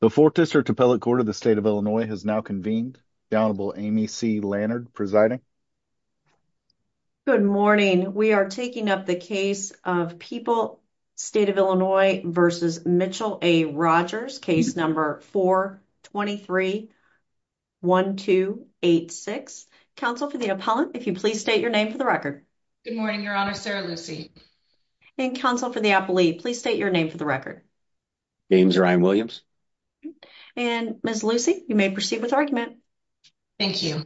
The Fourth District Appellate Court of the State of Illinois has now convened. The Honorable Amy C. Lannard presiding. Good morning. We are taking up the case of People State of Illinois v. Mitchell v. Rogers, case number 4231286. Counsel for the appellant, if you please state your name for the record. Good morning, Your Honor. Sarah Lucy. And counsel for the appellee, please state your name for the record. James Ryan Williams. And Ms. Lucy, you may proceed with argument. Thank you.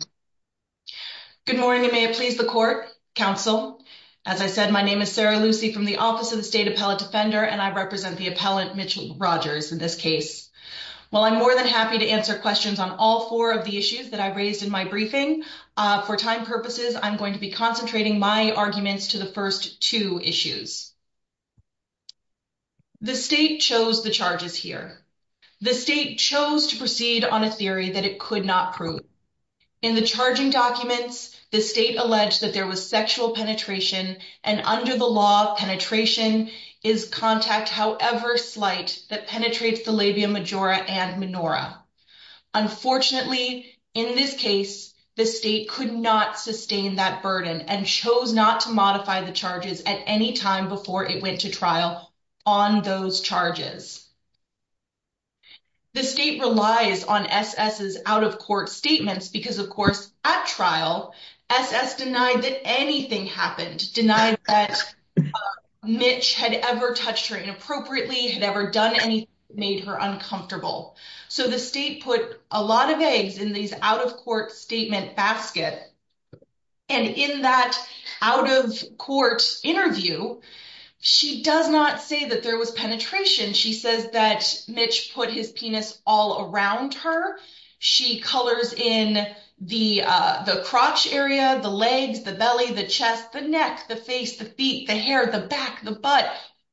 Good morning and may it please the court, counsel. As I said, my name is Sarah Lucy from the Office of the State Appellate Defender and I represent the appellant, Mitchell Rogers, in this case. While I'm more than happy to answer questions on all four of the issues that I raised in my briefing, for time purposes, I'm going to be concentrating my arguments to the first two issues. The state chose the charges here. The state chose to proceed on a theory that it could not prove. In the charging documents, the state alleged that there was sexual penetration and under the law, penetration is contact, however slight, that penetrates the labia majora and menorah. Unfortunately, in this case, the state could not sustain that burden and chose not to modify the charges at any time before it went to trial on those charges. The state relies on SS's out-of-court statements because, of course, at trial, SS denied that anything happened, denied that Mitch had ever touched her inappropriately, had ever done anything that made her uncomfortable. So, the state put a lot of eggs in these out-of-court statement basket and in that out-of-court interview, she does not say that there was penetration. She says that Mitch put his penis all around her. She colors in the crotch area, the legs, the belly, the chest, the neck, the face, the feet, the hair, the back, the butt,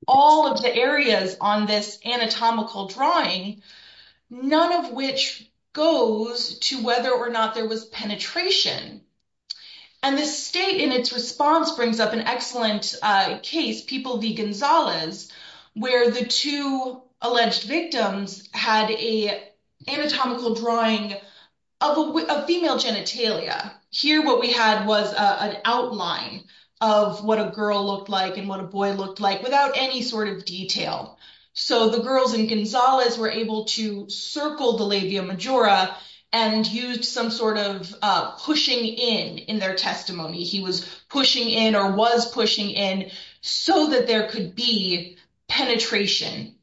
all of the areas on this anatomical drawing, none of which goes to whether or not there was penetration. And the state, in its response, brings up an excellent case, People v. Gonzalez, where the two alleged victims had an anatomical drawing of a female genitalia. Here, what we had was an outline of what a girl looked like and what a boy looked like without any sort of detail. So, the girls in Gonzalez were able to circle the labia majora and used some sort of pushing in in their testimony. He was pushing in or was pushing in so that there could be penetration.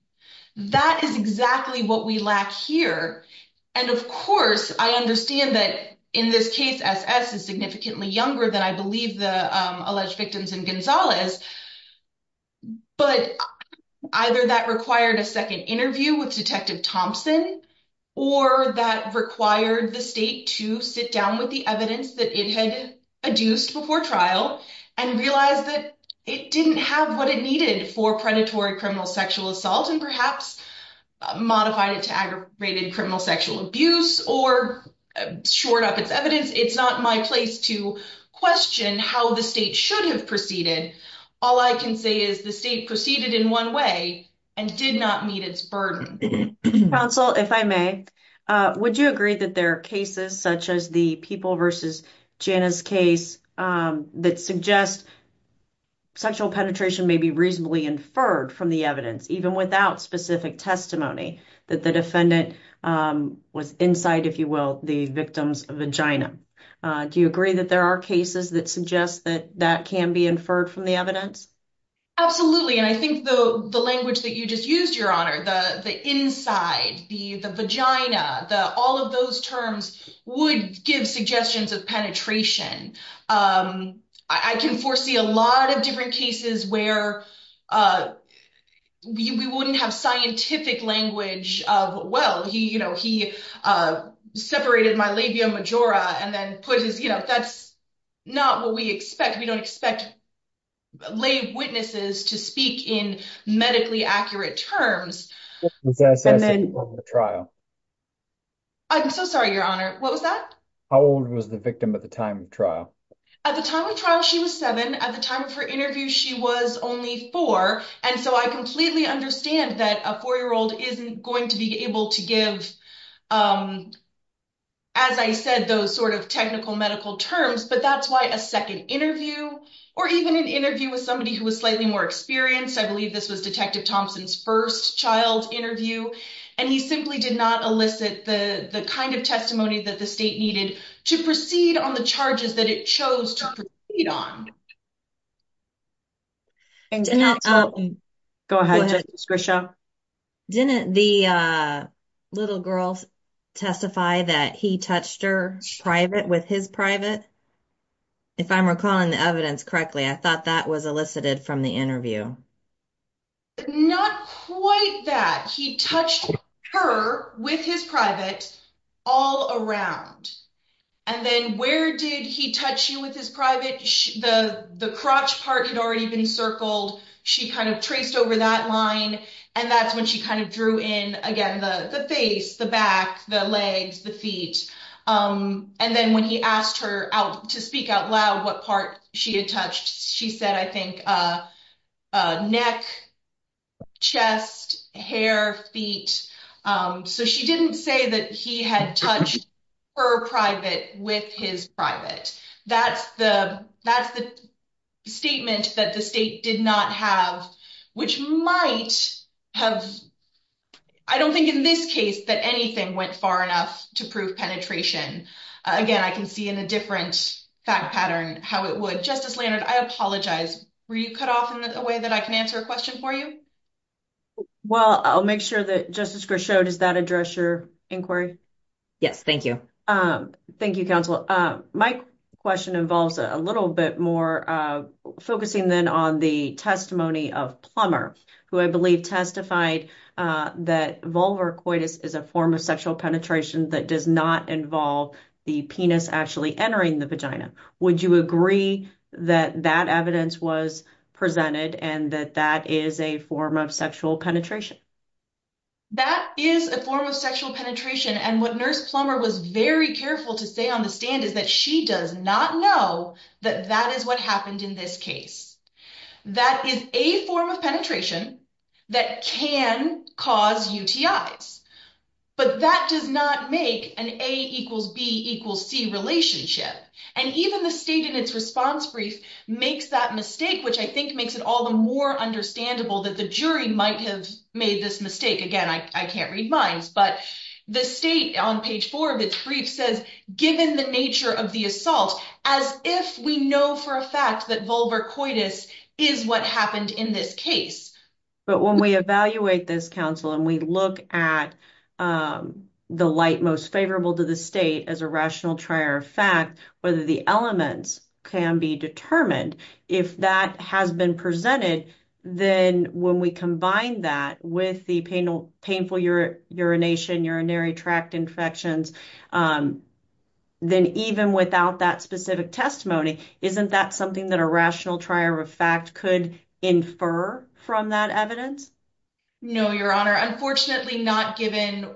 That is exactly what we lack here. And, of course, I understand that in this case, S.S. is significantly younger than I believe the alleged victims in Gonzalez. But either that required a second interview with Detective Thompson or that required the state to sit down with the evidence that it had adduced before trial and realize that it didn't have what it needed for predatory criminal sexual assault and perhaps modified it to aggravated criminal sexual abuse or shored up its evidence. It's not my place to question how the state should have proceeded. All I can say is the state proceeded in one way and did not meet its burden. Counsel, if I may, would you agree that there are cases such as the People v. Janis case that suggest sexual penetration may be reasonably inferred from the evidence, even without specific testimony, that the defendant was inside, if you will, the victim's vagina? Do you agree that there are cases that suggest that that can be inferred from the evidence? Absolutely. And I think the language that you just used, Your Honor, the inside, the vagina, all of those terms would give suggestions of penetration. I can foresee a lot of different cases where we wouldn't have scientific language of, well, he, you know, he separated my labia majora and then put his, you know, that's not what we expect. We don't expect lay witnesses to speak in medically accurate terms. I'm so sorry, Your Honor. What was that? How old was the victim at the time of trial? At the time of trial, she was seven. At the time of her interview, she was only four. And so I completely understand that a four-year-old isn't going to be able to give, as I said, those sort of technical medical terms. But that's why a second interview or even an interview with somebody who was slightly more experienced, I believe this was Detective Thompson's first child interview, and he simply did not elicit the kind of testimony that the state needed to proceed on the charges that it chose to proceed on. Go ahead, Justice Grisham. Didn't the little girl testify that he touched her private with his private? If I'm recalling the evidence correctly, I thought that was elicited from the interview. Not quite that. He touched her with his private all around. And then where did he touch you with his private? The crotch part had already been circled. She kind of traced over that line. And that's when she kind of drew in, again, the face, the back, the legs, the feet. And then when he asked her to speak out loud what part she had touched, she said, I think, neck, chest, hair, feet. So she didn't say that he had touched her private with his private. That's the statement that the state did not have, which might have...I don't think in this case that went far enough to prove penetration. Again, I can see in a different fact pattern how it would. Justice Leonard, I apologize. Were you cut off in a way that I can answer a question for you? Well, I'll make sure that...Justice Grisham, does that address your inquiry? Yes, thank you. Thank you, counsel. My question involves a little bit more focusing then on the testimony of Plummer, who I believe testified that vulvar coitus is a form of sexual penetration that does not involve the penis actually entering the vagina. Would you agree that that evidence was presented and that that is a form of sexual penetration? That is a form of sexual penetration. And what Nurse Plummer was very careful to say on the stand is that she does not know that that is what happened in this case. That is a form of penetration that can cause UTIs, but that does not make an A equals B equals C relationship. And even the state in its response brief makes that mistake, which I think makes it all the more understandable that the jury might have made this mistake. Again, I can't read minds, but the state on page four of its brief says, given the nature of the assault, as if we know for a fact that vulvar coitus is what happened in this case. But when we evaluate this counsel and we look at the light most favorable to the state as a rational trier of fact, whether the elements can be determined, if that has been presented, then when we combine that with the painful urination, urinary tract infections, then even without that specific testimony, isn't that something that a rational trier of fact could infer from that evidence? No, Your Honor. Unfortunately not given...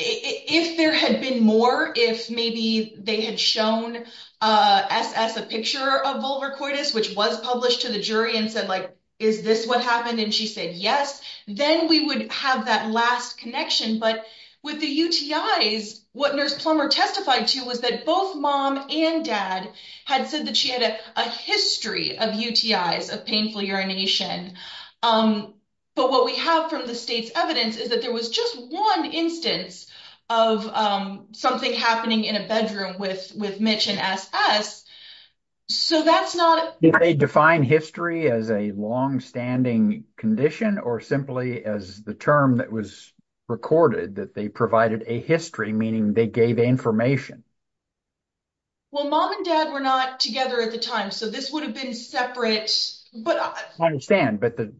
If there had been more, if maybe they had shown SS a picture of vulvar coitus, which was published to the jury and said, is this what happened? And she said, yes, then we would have that last connection. But with the UTIs, what nurse Plummer testified to was that both mom and dad had said that she had a history of UTIs of painful urination. But what we have from the state's evidence is that there was just one instance of something happening in a bedroom with Mitch and SS. So that's not... Did they define history as a long standing condition or simply as the term that was recorded that they provided a history, meaning they gave information? Well, mom and dad were not together at the time, so this would have been separate, but... I understand, but the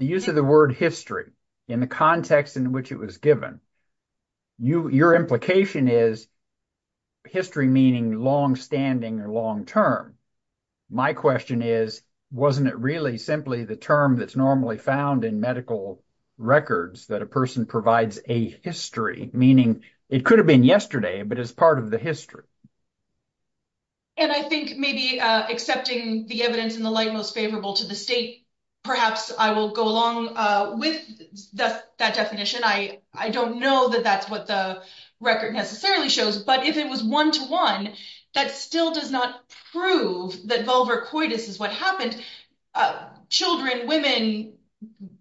use of the word history in the context in which it was given, your implication is history meaning long standing or long term. My question is, wasn't it really the term that's normally found in medical records that a person provides a history, meaning it could have been yesterday, but it's part of the history. And I think maybe accepting the evidence in the light most favorable to the state, perhaps I will go along with that definition. I don't know that that's what the record necessarily shows, but if it was one to one, that still does not prove that vulvar coitus is what happened. Children, women,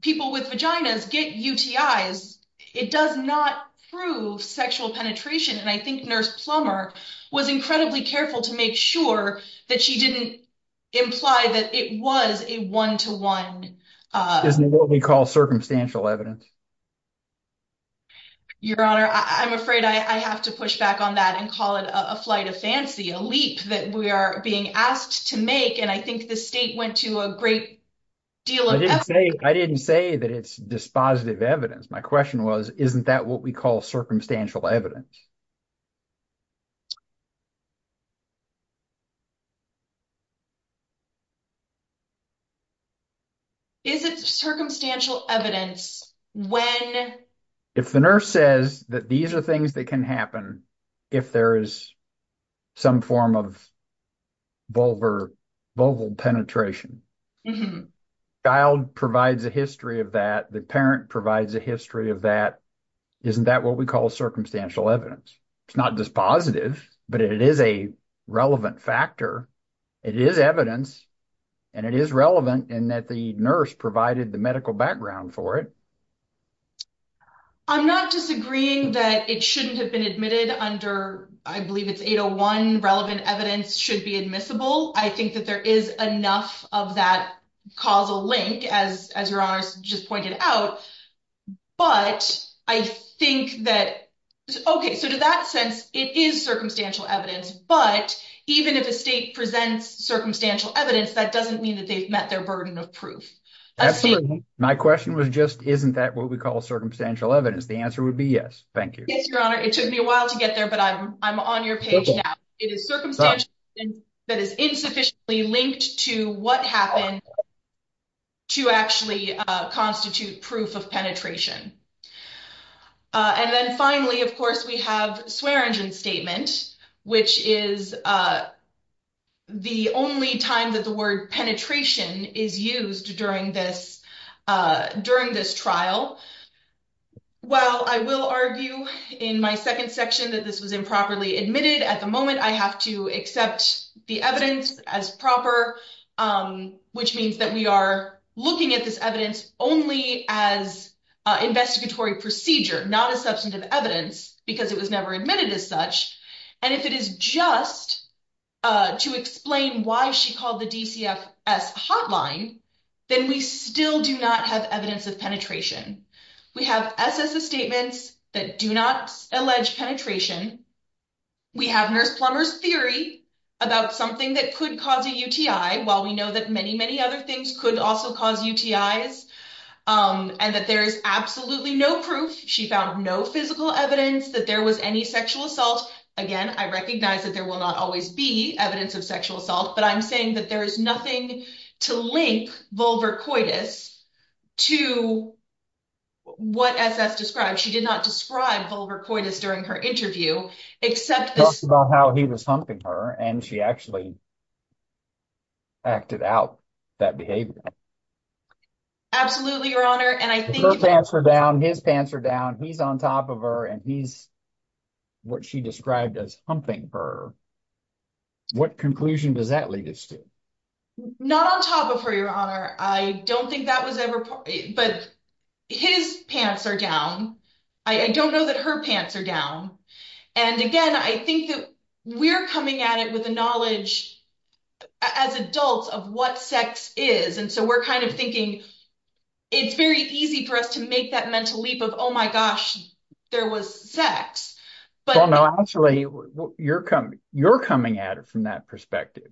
people with vaginas get UTIs. It does not prove sexual penetration, and I think Nurse Plummer was incredibly careful to make sure that she didn't imply that it was a one to one... Isn't it what we call circumstantial evidence? Your Honor, I'm afraid I have to push back on that and call it a flight of fancy, a leap that we are being asked to make, and I think the state went to a great deal of effort. I didn't say that it's dispositive evidence. My question was, isn't that what we call circumstantial evidence? Is it circumstantial evidence when... If the nurse says that these are things that can happen if there is some form of vulval penetration, child provides a history of that, the parent provides a history of that, isn't that what we call circumstantial evidence? It's not dispositive, but it is a relevant factor. It is evidence, and it is relevant in that the nurse provided the medical background for it. I'm not disagreeing that it shouldn't have been admitted under, I believe it's 801, relevant evidence should be admissible. I think that there is enough of that causal link, as Your Honor just pointed out, but I think that... Okay, so to that sense, it is circumstantial evidence, but even if the state presents circumstantial evidence, that doesn't mean that they've met their burden of proof. Absolutely. My question was just, isn't that what we call circumstantial evidence? The answer would be yes. Thank you. Yes, Your Honor. It took me a while to get there, but I'm on your page now. It is circumstantial evidence that is insufficiently linked to what happened to actually constitute proof of penetration. And then finally, of course, we have Swearengin's statement, which is the only time that the word penetration is used during this trial. While I will argue in my second section that this was improperly admitted, at the moment I have to accept the evidence as proper, which means that we are looking at this only as investigatory procedure, not as substantive evidence, because it was never admitted as such. And if it is just to explain why she called the DCFS a hotline, then we still do not have evidence of penetration. We have SSS statements that do not allege penetration. We have Nurse Plummer's theory about something that could cause a UTI, while we know that many, many other things could also cause UTIs, and that there is absolutely no proof. She found no physical evidence that there was any sexual assault. Again, I recognize that there will not always be evidence of sexual assault, but I'm saying that there is nothing to link vulvar coitus to what SSS described. She did not describe vulvar coitus during her interview, except this- Talk about how he was humping her, and she actually acted out that behavior. Absolutely, Your Honor, and I think- Her pants are down, his pants are down, he's on top of her, and he's what she described as humping her. What conclusion does that lead us to? Not on top of her, Your Honor. I don't think that was ever- but his pants are down. I don't know that her pants are down. Again, I think that we're coming at it with a knowledge as adults of what sex is, and so we're thinking it's very easy for us to make that mental leap of, oh my gosh, there was sex. Actually, you're coming at it from that perspective.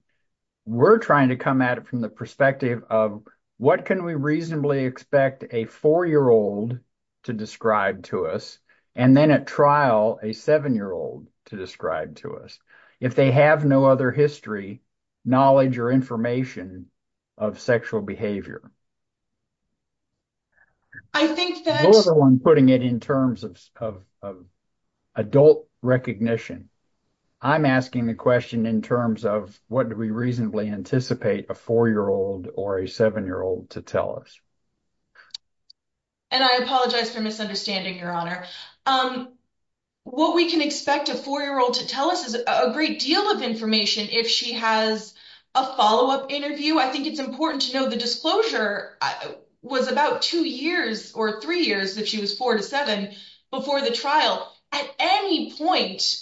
We're trying to come at it from the perspective of what can we reasonably expect a four-year-old to describe to us, and then at trial, a seven-year-old to describe to us, if they have no other history, knowledge, or information of sexual behavior? I think that- I'm putting it in terms of adult recognition. I'm asking the question in terms of what do we reasonably anticipate a four-year-old or a seven-year-old to tell us? I apologize for misunderstanding, Your Honor. What we can expect a four-year-old to tell us is a great deal of information. If she has a follow-up interview, I think it's important to know the disclosure was about two years or three years, if she was four to seven, before the trial. At any point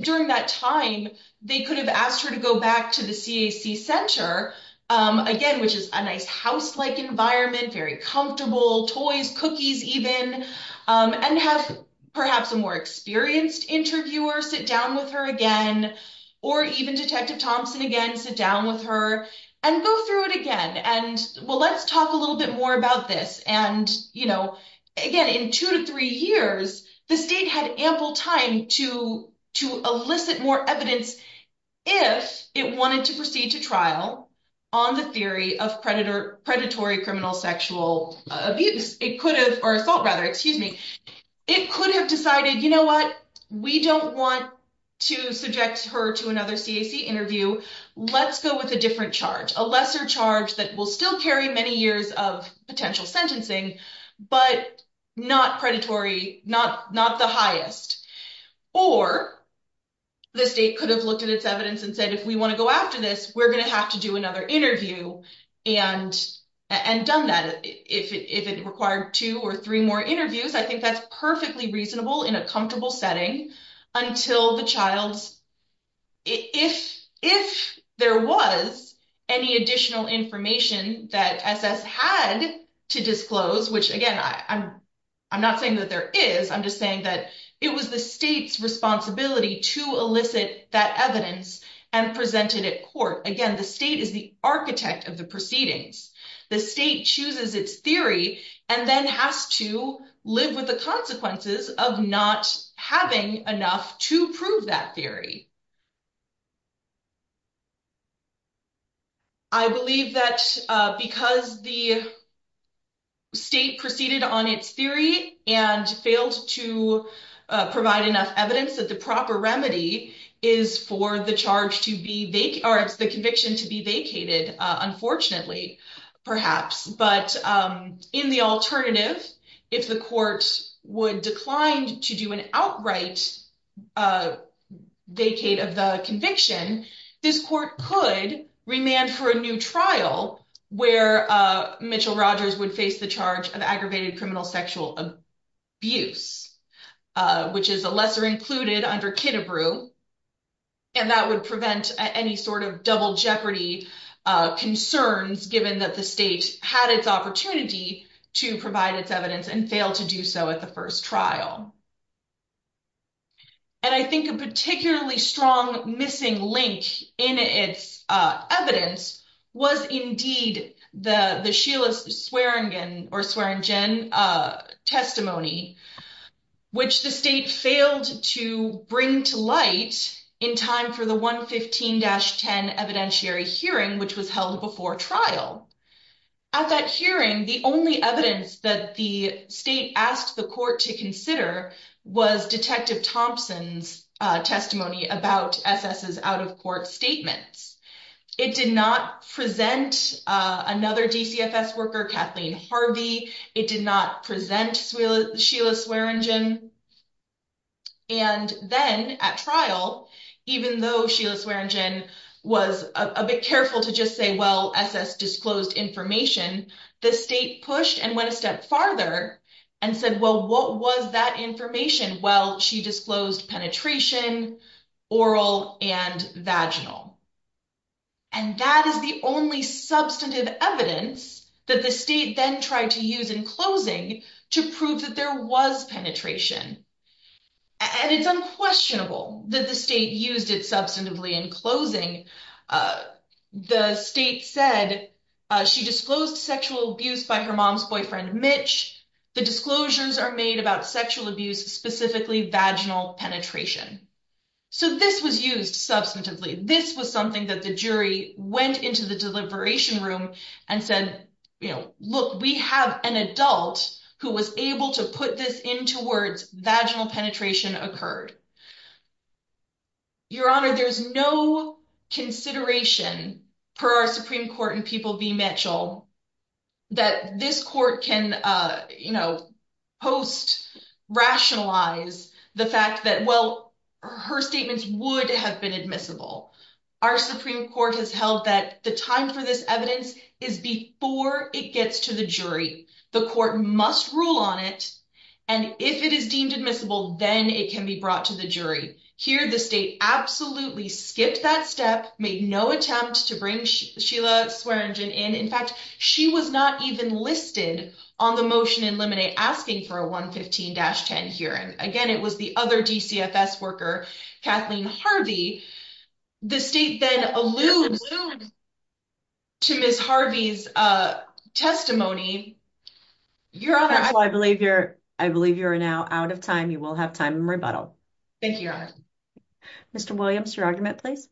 during that time, they could have asked her to go back to the CAC Center, again, which is a nice house-like environment, very comfortable, toys, cookies even, and have perhaps a more experienced interviewer sit down with her again, or even Detective Thompson again, sit down with her and go through it again. Well, let's talk a little bit more about this. Again, in two to three years, the state had ample time to elicit more evidence if it wanted to proceed to trial on the theory of predatory criminal sexual abuse, or assault, rather, excuse me. It could have decided, you know what? We don't want to subject her to another CAC interview. Let's go with a different charge, a lesser charge that will still carry many years of potential sentencing, but not predatory, not the highest. Or the state could have looked at its evidence and said, if we want to go after this, we're going to have to do another interview and done that. If it required two or three more interviews, I think that's perfectly reasonable in a comfortable setting until the child's... If there was any additional information that SS had to disclose, which again, I'm not saying that there is, I'm just saying that it was the state's responsibility to elicit that evidence and present it at court. Again, the state is the architect of the proceedings. The state chooses its theory and then has to live with the consequences of not having enough to prove that theory. I believe that because the state proceeded on its theory and failed to provide enough evidence, that the proper remedy is for the charge to be... Or it's the conviction to be vacated, unfortunately, perhaps. But in the alternative, if the court would decline to do an outright vacate of the conviction, this court could remand for a new trial where Mitchell-Rogers would face the charge of aggravated criminal sexual abuse, which is a lesser included under Kidabrew. And that would prevent any sort of double jeopardy concerns, given that the state had its opportunity to provide its evidence and failed to do so at the first trial. And I think a particularly strong missing link in its evidence was indeed the Sheila Swearingen testimony, which the state failed to bring to light in time for the 115-10 evidentiary hearing, which was held before trial. At that hearing, the only evidence that the state asked the court to consider was Detective Thompson's testimony about SS's out-of-court statements. It did not present another DCFS worker, Kathleen Harvey. It did not present Sheila Swearingen. And then at trial, even though Sheila Swearingen was a bit careful to just say, SS disclosed information, the state pushed and went a step farther and said, well, what was that information? Well, she disclosed penetration, oral and vaginal. And that is the only substantive evidence that the state then tried to use in closing to prove that there was penetration. And it's unquestionable that the state used it substantively in closing. The state said she disclosed sexual abuse by her mom's boyfriend, Mitch. The disclosures are made about sexual abuse, specifically vaginal penetration. So this was used substantively. This was something that the jury went into the deliberation room and said, look, we have an adult who was able to put this into words, vaginal penetration occurred. Your Honor, there's no consideration per our Supreme Court in People v. Mitchell that this court can post-rationalize the fact that, well, her statements would have been admissible. Our Supreme Court has held that the time for this evidence is before it gets to the jury. The court must rule on it. And if it is deemed admissible, then it can be brought to the jury. Here, the state absolutely skipped that step, made no attempt to bring Sheila Swearingen in. In fact, she was not even listed on the motion in Lemonade asking for a 115-10 hearing. Again, it was the other DCFS worker, Kathleen Harvey. The state then alludes to Ms. Harvey's testimony Your Honor, I believe you're now out of time. You will have time in rebuttal. Thank you, Your Honor. Mr. Williams, your argument, please.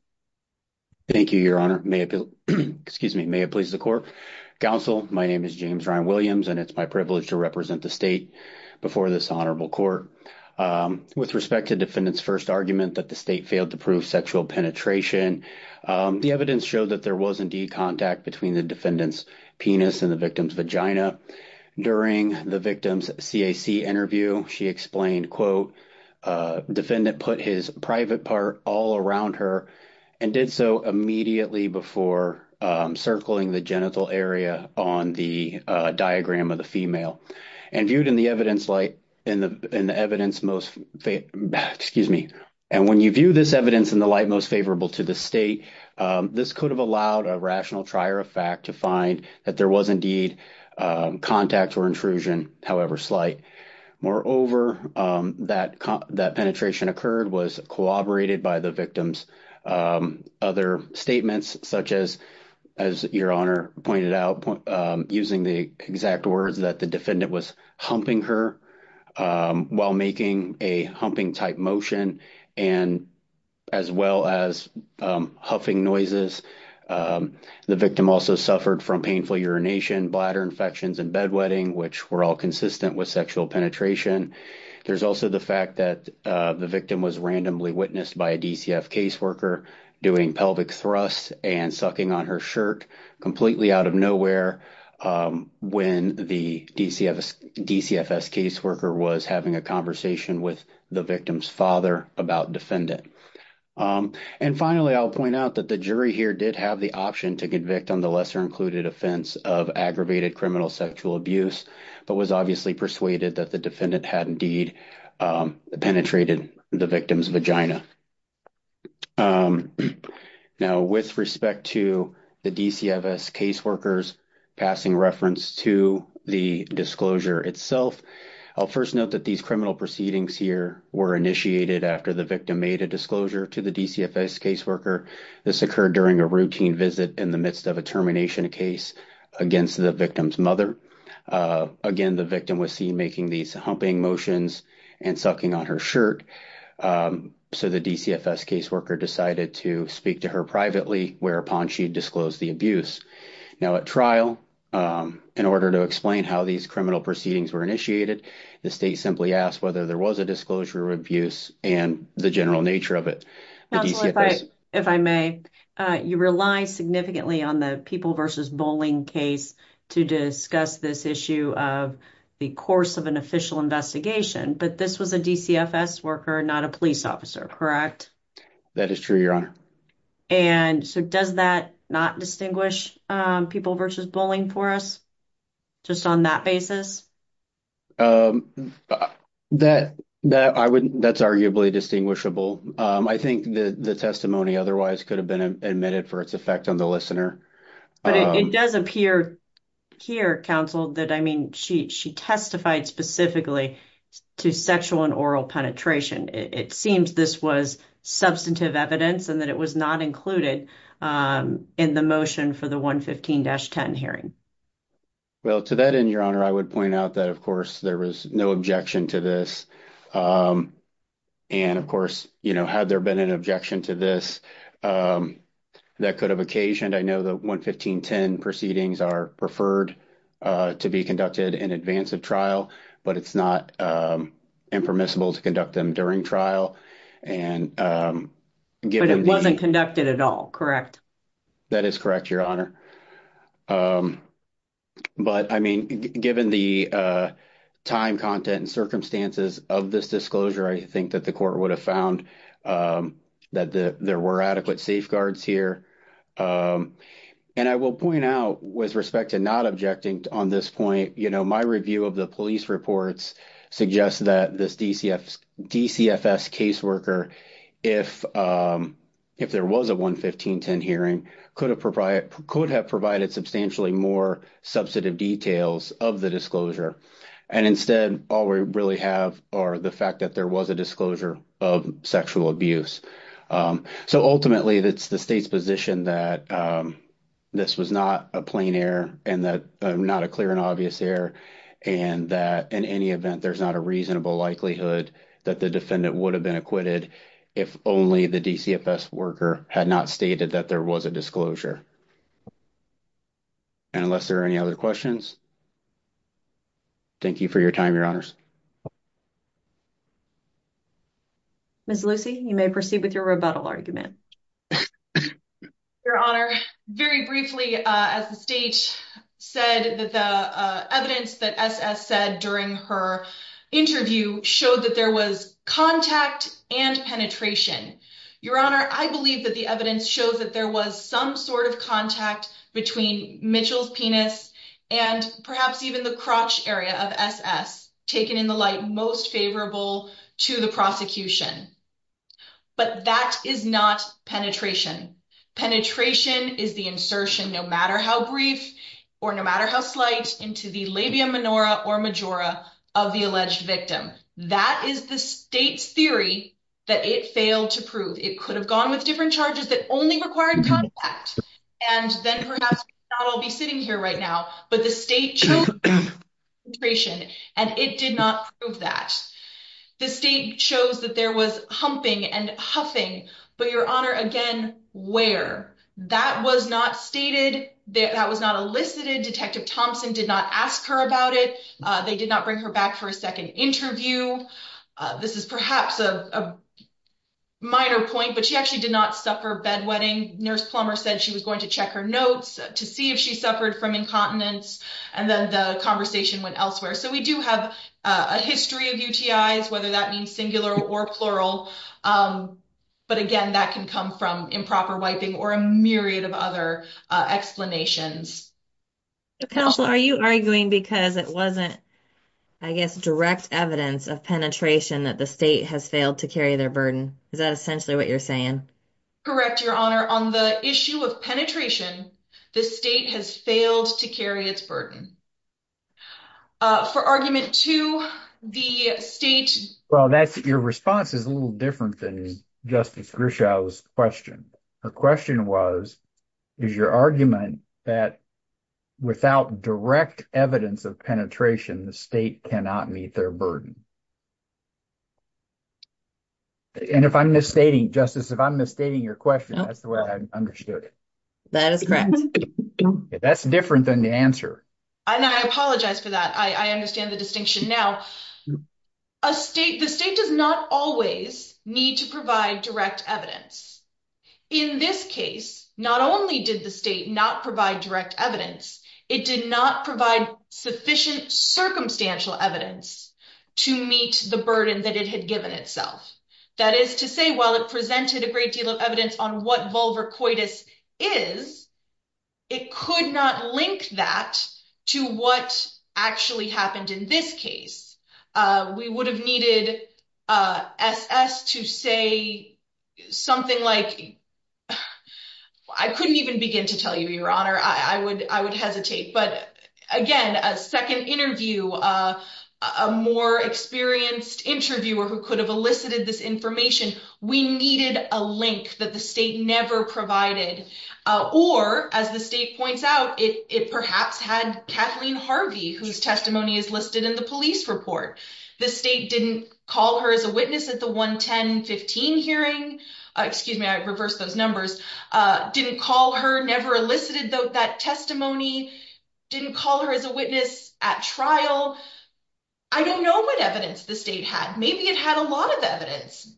Thank you, Your Honor. May it please the court. Counsel, my name is James Ryan Williams and it's my privilege to represent the state before this honorable court. With respect to defendant's first argument that the state failed to prove sexual penetration, the evidence showed that there was indeed contact between the defendant's penis and the victim's vagina. During the victim's CAC interview, she explained, quote, defendant put his private part all around her and did so immediately before circling the genital area on the diagram of the female. And viewed in the evidence light, in the evidence most, excuse me, and when you view this evidence in the light most to the state, this could have allowed a rational trier of fact to find that there was indeed contact or intrusion, however slight. Moreover, that penetration occurred was corroborated by the victim's other statements such as, as Your Honor pointed out, using the exact words that the defendant was humping her while making a humping-type motion and as well as huffing noises. The victim also suffered from painful urination, bladder infections, and bedwetting which were all consistent with sexual penetration. There's also the fact that the victim was randomly witnessed by a DCF caseworker doing pelvic thrusts and sucking on her shirt completely out of nowhere when the DCFS caseworker was having a conversation with the victim's father about defendant. And finally, I'll point out that the jury here did have the option to convict on the lesser included offense of aggravated criminal sexual abuse, but was obviously persuaded that the defendant had indeed penetrated the victim's vagina. Now, with respect to the DCFS caseworkers passing reference to the disclosure itself, I'll first note that these criminal proceedings here were initiated after the victim made a disclosure to the DCFS caseworker. This occurred during a routine visit in the midst of a termination case against the victim's mother. Again, the victim was seen making these humping motions and sucking on her shirt, so the DCFS caseworker decided to speak to her privately whereupon she the abuse. Now, at trial, in order to explain how these criminal proceedings were initiated, the state simply asked whether there was a disclosure of abuse and the general nature of it. If I may, you rely significantly on the people versus bowling case to discuss this issue of the course of an official investigation, but this was a DCFS worker, not a police officer, correct? That is true, your honor. And so does that not distinguish people versus bowling for us, just on that basis? That's arguably distinguishable. I think the testimony otherwise could have been admitted for its effect on the listener. But it does appear here, counsel, that, I mean, she testified specifically to sexual and oral penetration. It seems this was substantive evidence and that it was not included in the motion for the 115-10 hearing. Well, to that end, your honor, I would point out that, of course, there was no objection to this. And, of course, you know, had there been an objection to this, that could have occasioned, I know the 115-10 proceedings are preferred to be conducted in advance of trial, but it's not impermissible to conduct them during trial. But it wasn't conducted at all, correct? That is correct, your honor. But, I mean, given the time, content, and circumstances of this disclosure, I think that the court would have found that there were adequate safeguards here. And I will point out, with respect to not objecting on this point, you know, my review of the police reports suggests that this DCFS caseworker, if there was a 115-10 hearing, could have provided substantially more substantive details of the disclosure. And instead, all we really have are the fact that there was a disclosure of sexual abuse. So, ultimately, it's the state's position that this was not a plain error and that not a clear and obvious error. And that, in any event, there's not a reasonable likelihood that the defendant would have been acquitted if only the DCFS worker had not stated that there was a disclosure. And unless there are any other questions, thank you for your time, your honors. Ms. Lucy, you may proceed with your rebuttal argument. Your honor, very briefly, as the state said that the evidence that S.S. said during her interview showed that there was contact and penetration. Your honor, I believe that the evidence shows that there was some sort of contact between Mitchell's penis and perhaps even the crotch area of S.S. taken in the light most favorable to the prosecution. But that is not penetration. Penetration is the insertion, no matter how brief or no matter how slight, into the labia minora or majora of the alleged victim. That is the state's theory that it failed to prove. It could have gone with different charges that only required contact. And then perhaps not all be sitting here right now, but the state chose penetration, and it did not prove that. The state chose that there was humping and huffing. But your honor, again, where? That was not stated. That was not elicited. Detective Thompson did not ask her about it. They did not bring her back for a second interview. This is perhaps a minor point, but she actually did not suffer bedwetting. Nurse Plummer said she was going to check her notes to see if she suffered from incontinence, and then the conversation went elsewhere. So we do have a history of UTIs, whether that means singular or plural. But again, that can come from improper wiping or a myriad of other explanations. Counselor, are you arguing because it wasn't, I guess, direct evidence of penetration that the state has failed to carry their burden? Is that essentially what you're saying? Correct, your honor. On the issue of penetration, the state has failed to carry its burden. For argument two, the state... Well, your response is a little different than Justice Grishow's question. Her question was, is your argument that without direct evidence of penetration, the state cannot meet their burden? And if I'm misstating, Justice, if I'm misstating your question, that's the way I understood it. That is correct. That's different than the answer. And I apologize for that. I understand the distinction. Now, the state does not always need to provide direct evidence. In this case, not only did the state not provide direct evidence, it did not provide sufficient circumstantial evidence to support meet the burden that it had given itself. That is to say, while it presented a great deal of evidence on what vulvar coitus is, it could not link that to what actually happened in this case. We would have needed SS to say something like... I couldn't even begin to tell you, Your Honor. I would hesitate. But again, a second interview, a more experienced interviewer who could have elicited this information, we needed a link that the state never provided. Or as the state points out, it perhaps had Kathleen Harvey, whose testimony is listed in the police report. The state didn't call her as a witness at the 1-10-15 hearing. Excuse me, I reversed those numbers. Didn't call her, never elicited that testimony. Didn't call her as a witness at trial. I don't know what evidence the state had. Maybe it had a lot of evidence.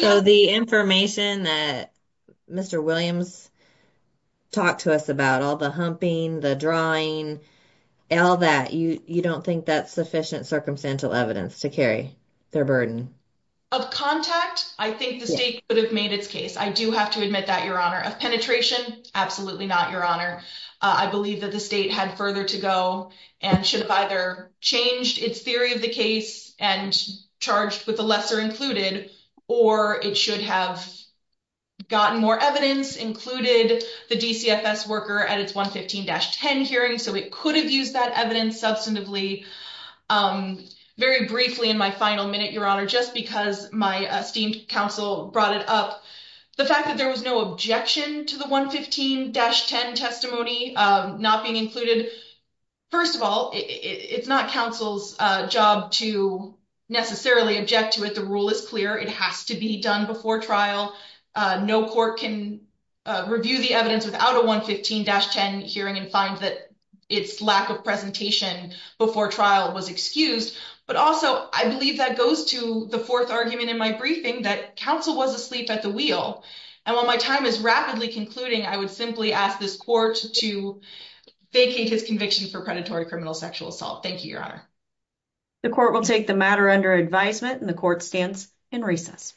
So the information that Mr. Williams talked to us about, all the humping, the drawing, all that, you don't think that's sufficient circumstantial evidence to carry their burden? Of contact, I think the state could have made its case. I do have to admit that, Your Honor. Of penetration, absolutely not, Your Honor. I believe that the state had further to go and should have either changed its theory of the case and charged with the lesser included, or it should have gotten more evidence, included the DCFS worker at its 1-15-10 hearing. So it could have used that evidence substantively very briefly in my final minute, Your Honor, just because my esteemed counsel brought it up. The fact that there was no objection to the 1-15-10 testimony not being included, first of all, it's not counsel's job to necessarily object to it. The rule is clear. It has to be done before trial. No court can review the evidence without a 1-15-10 hearing and find that its lack of presentation before trial was excused. But also, I believe that goes to the fourth argument in my briefing, that counsel was asleep at the wheel. And while my time is rapidly concluding, I would simply ask this court to vacate his conviction for predatory criminal sexual assault. Thank you, Your Honor. The court will take the matter under advisement and the court stands in recess.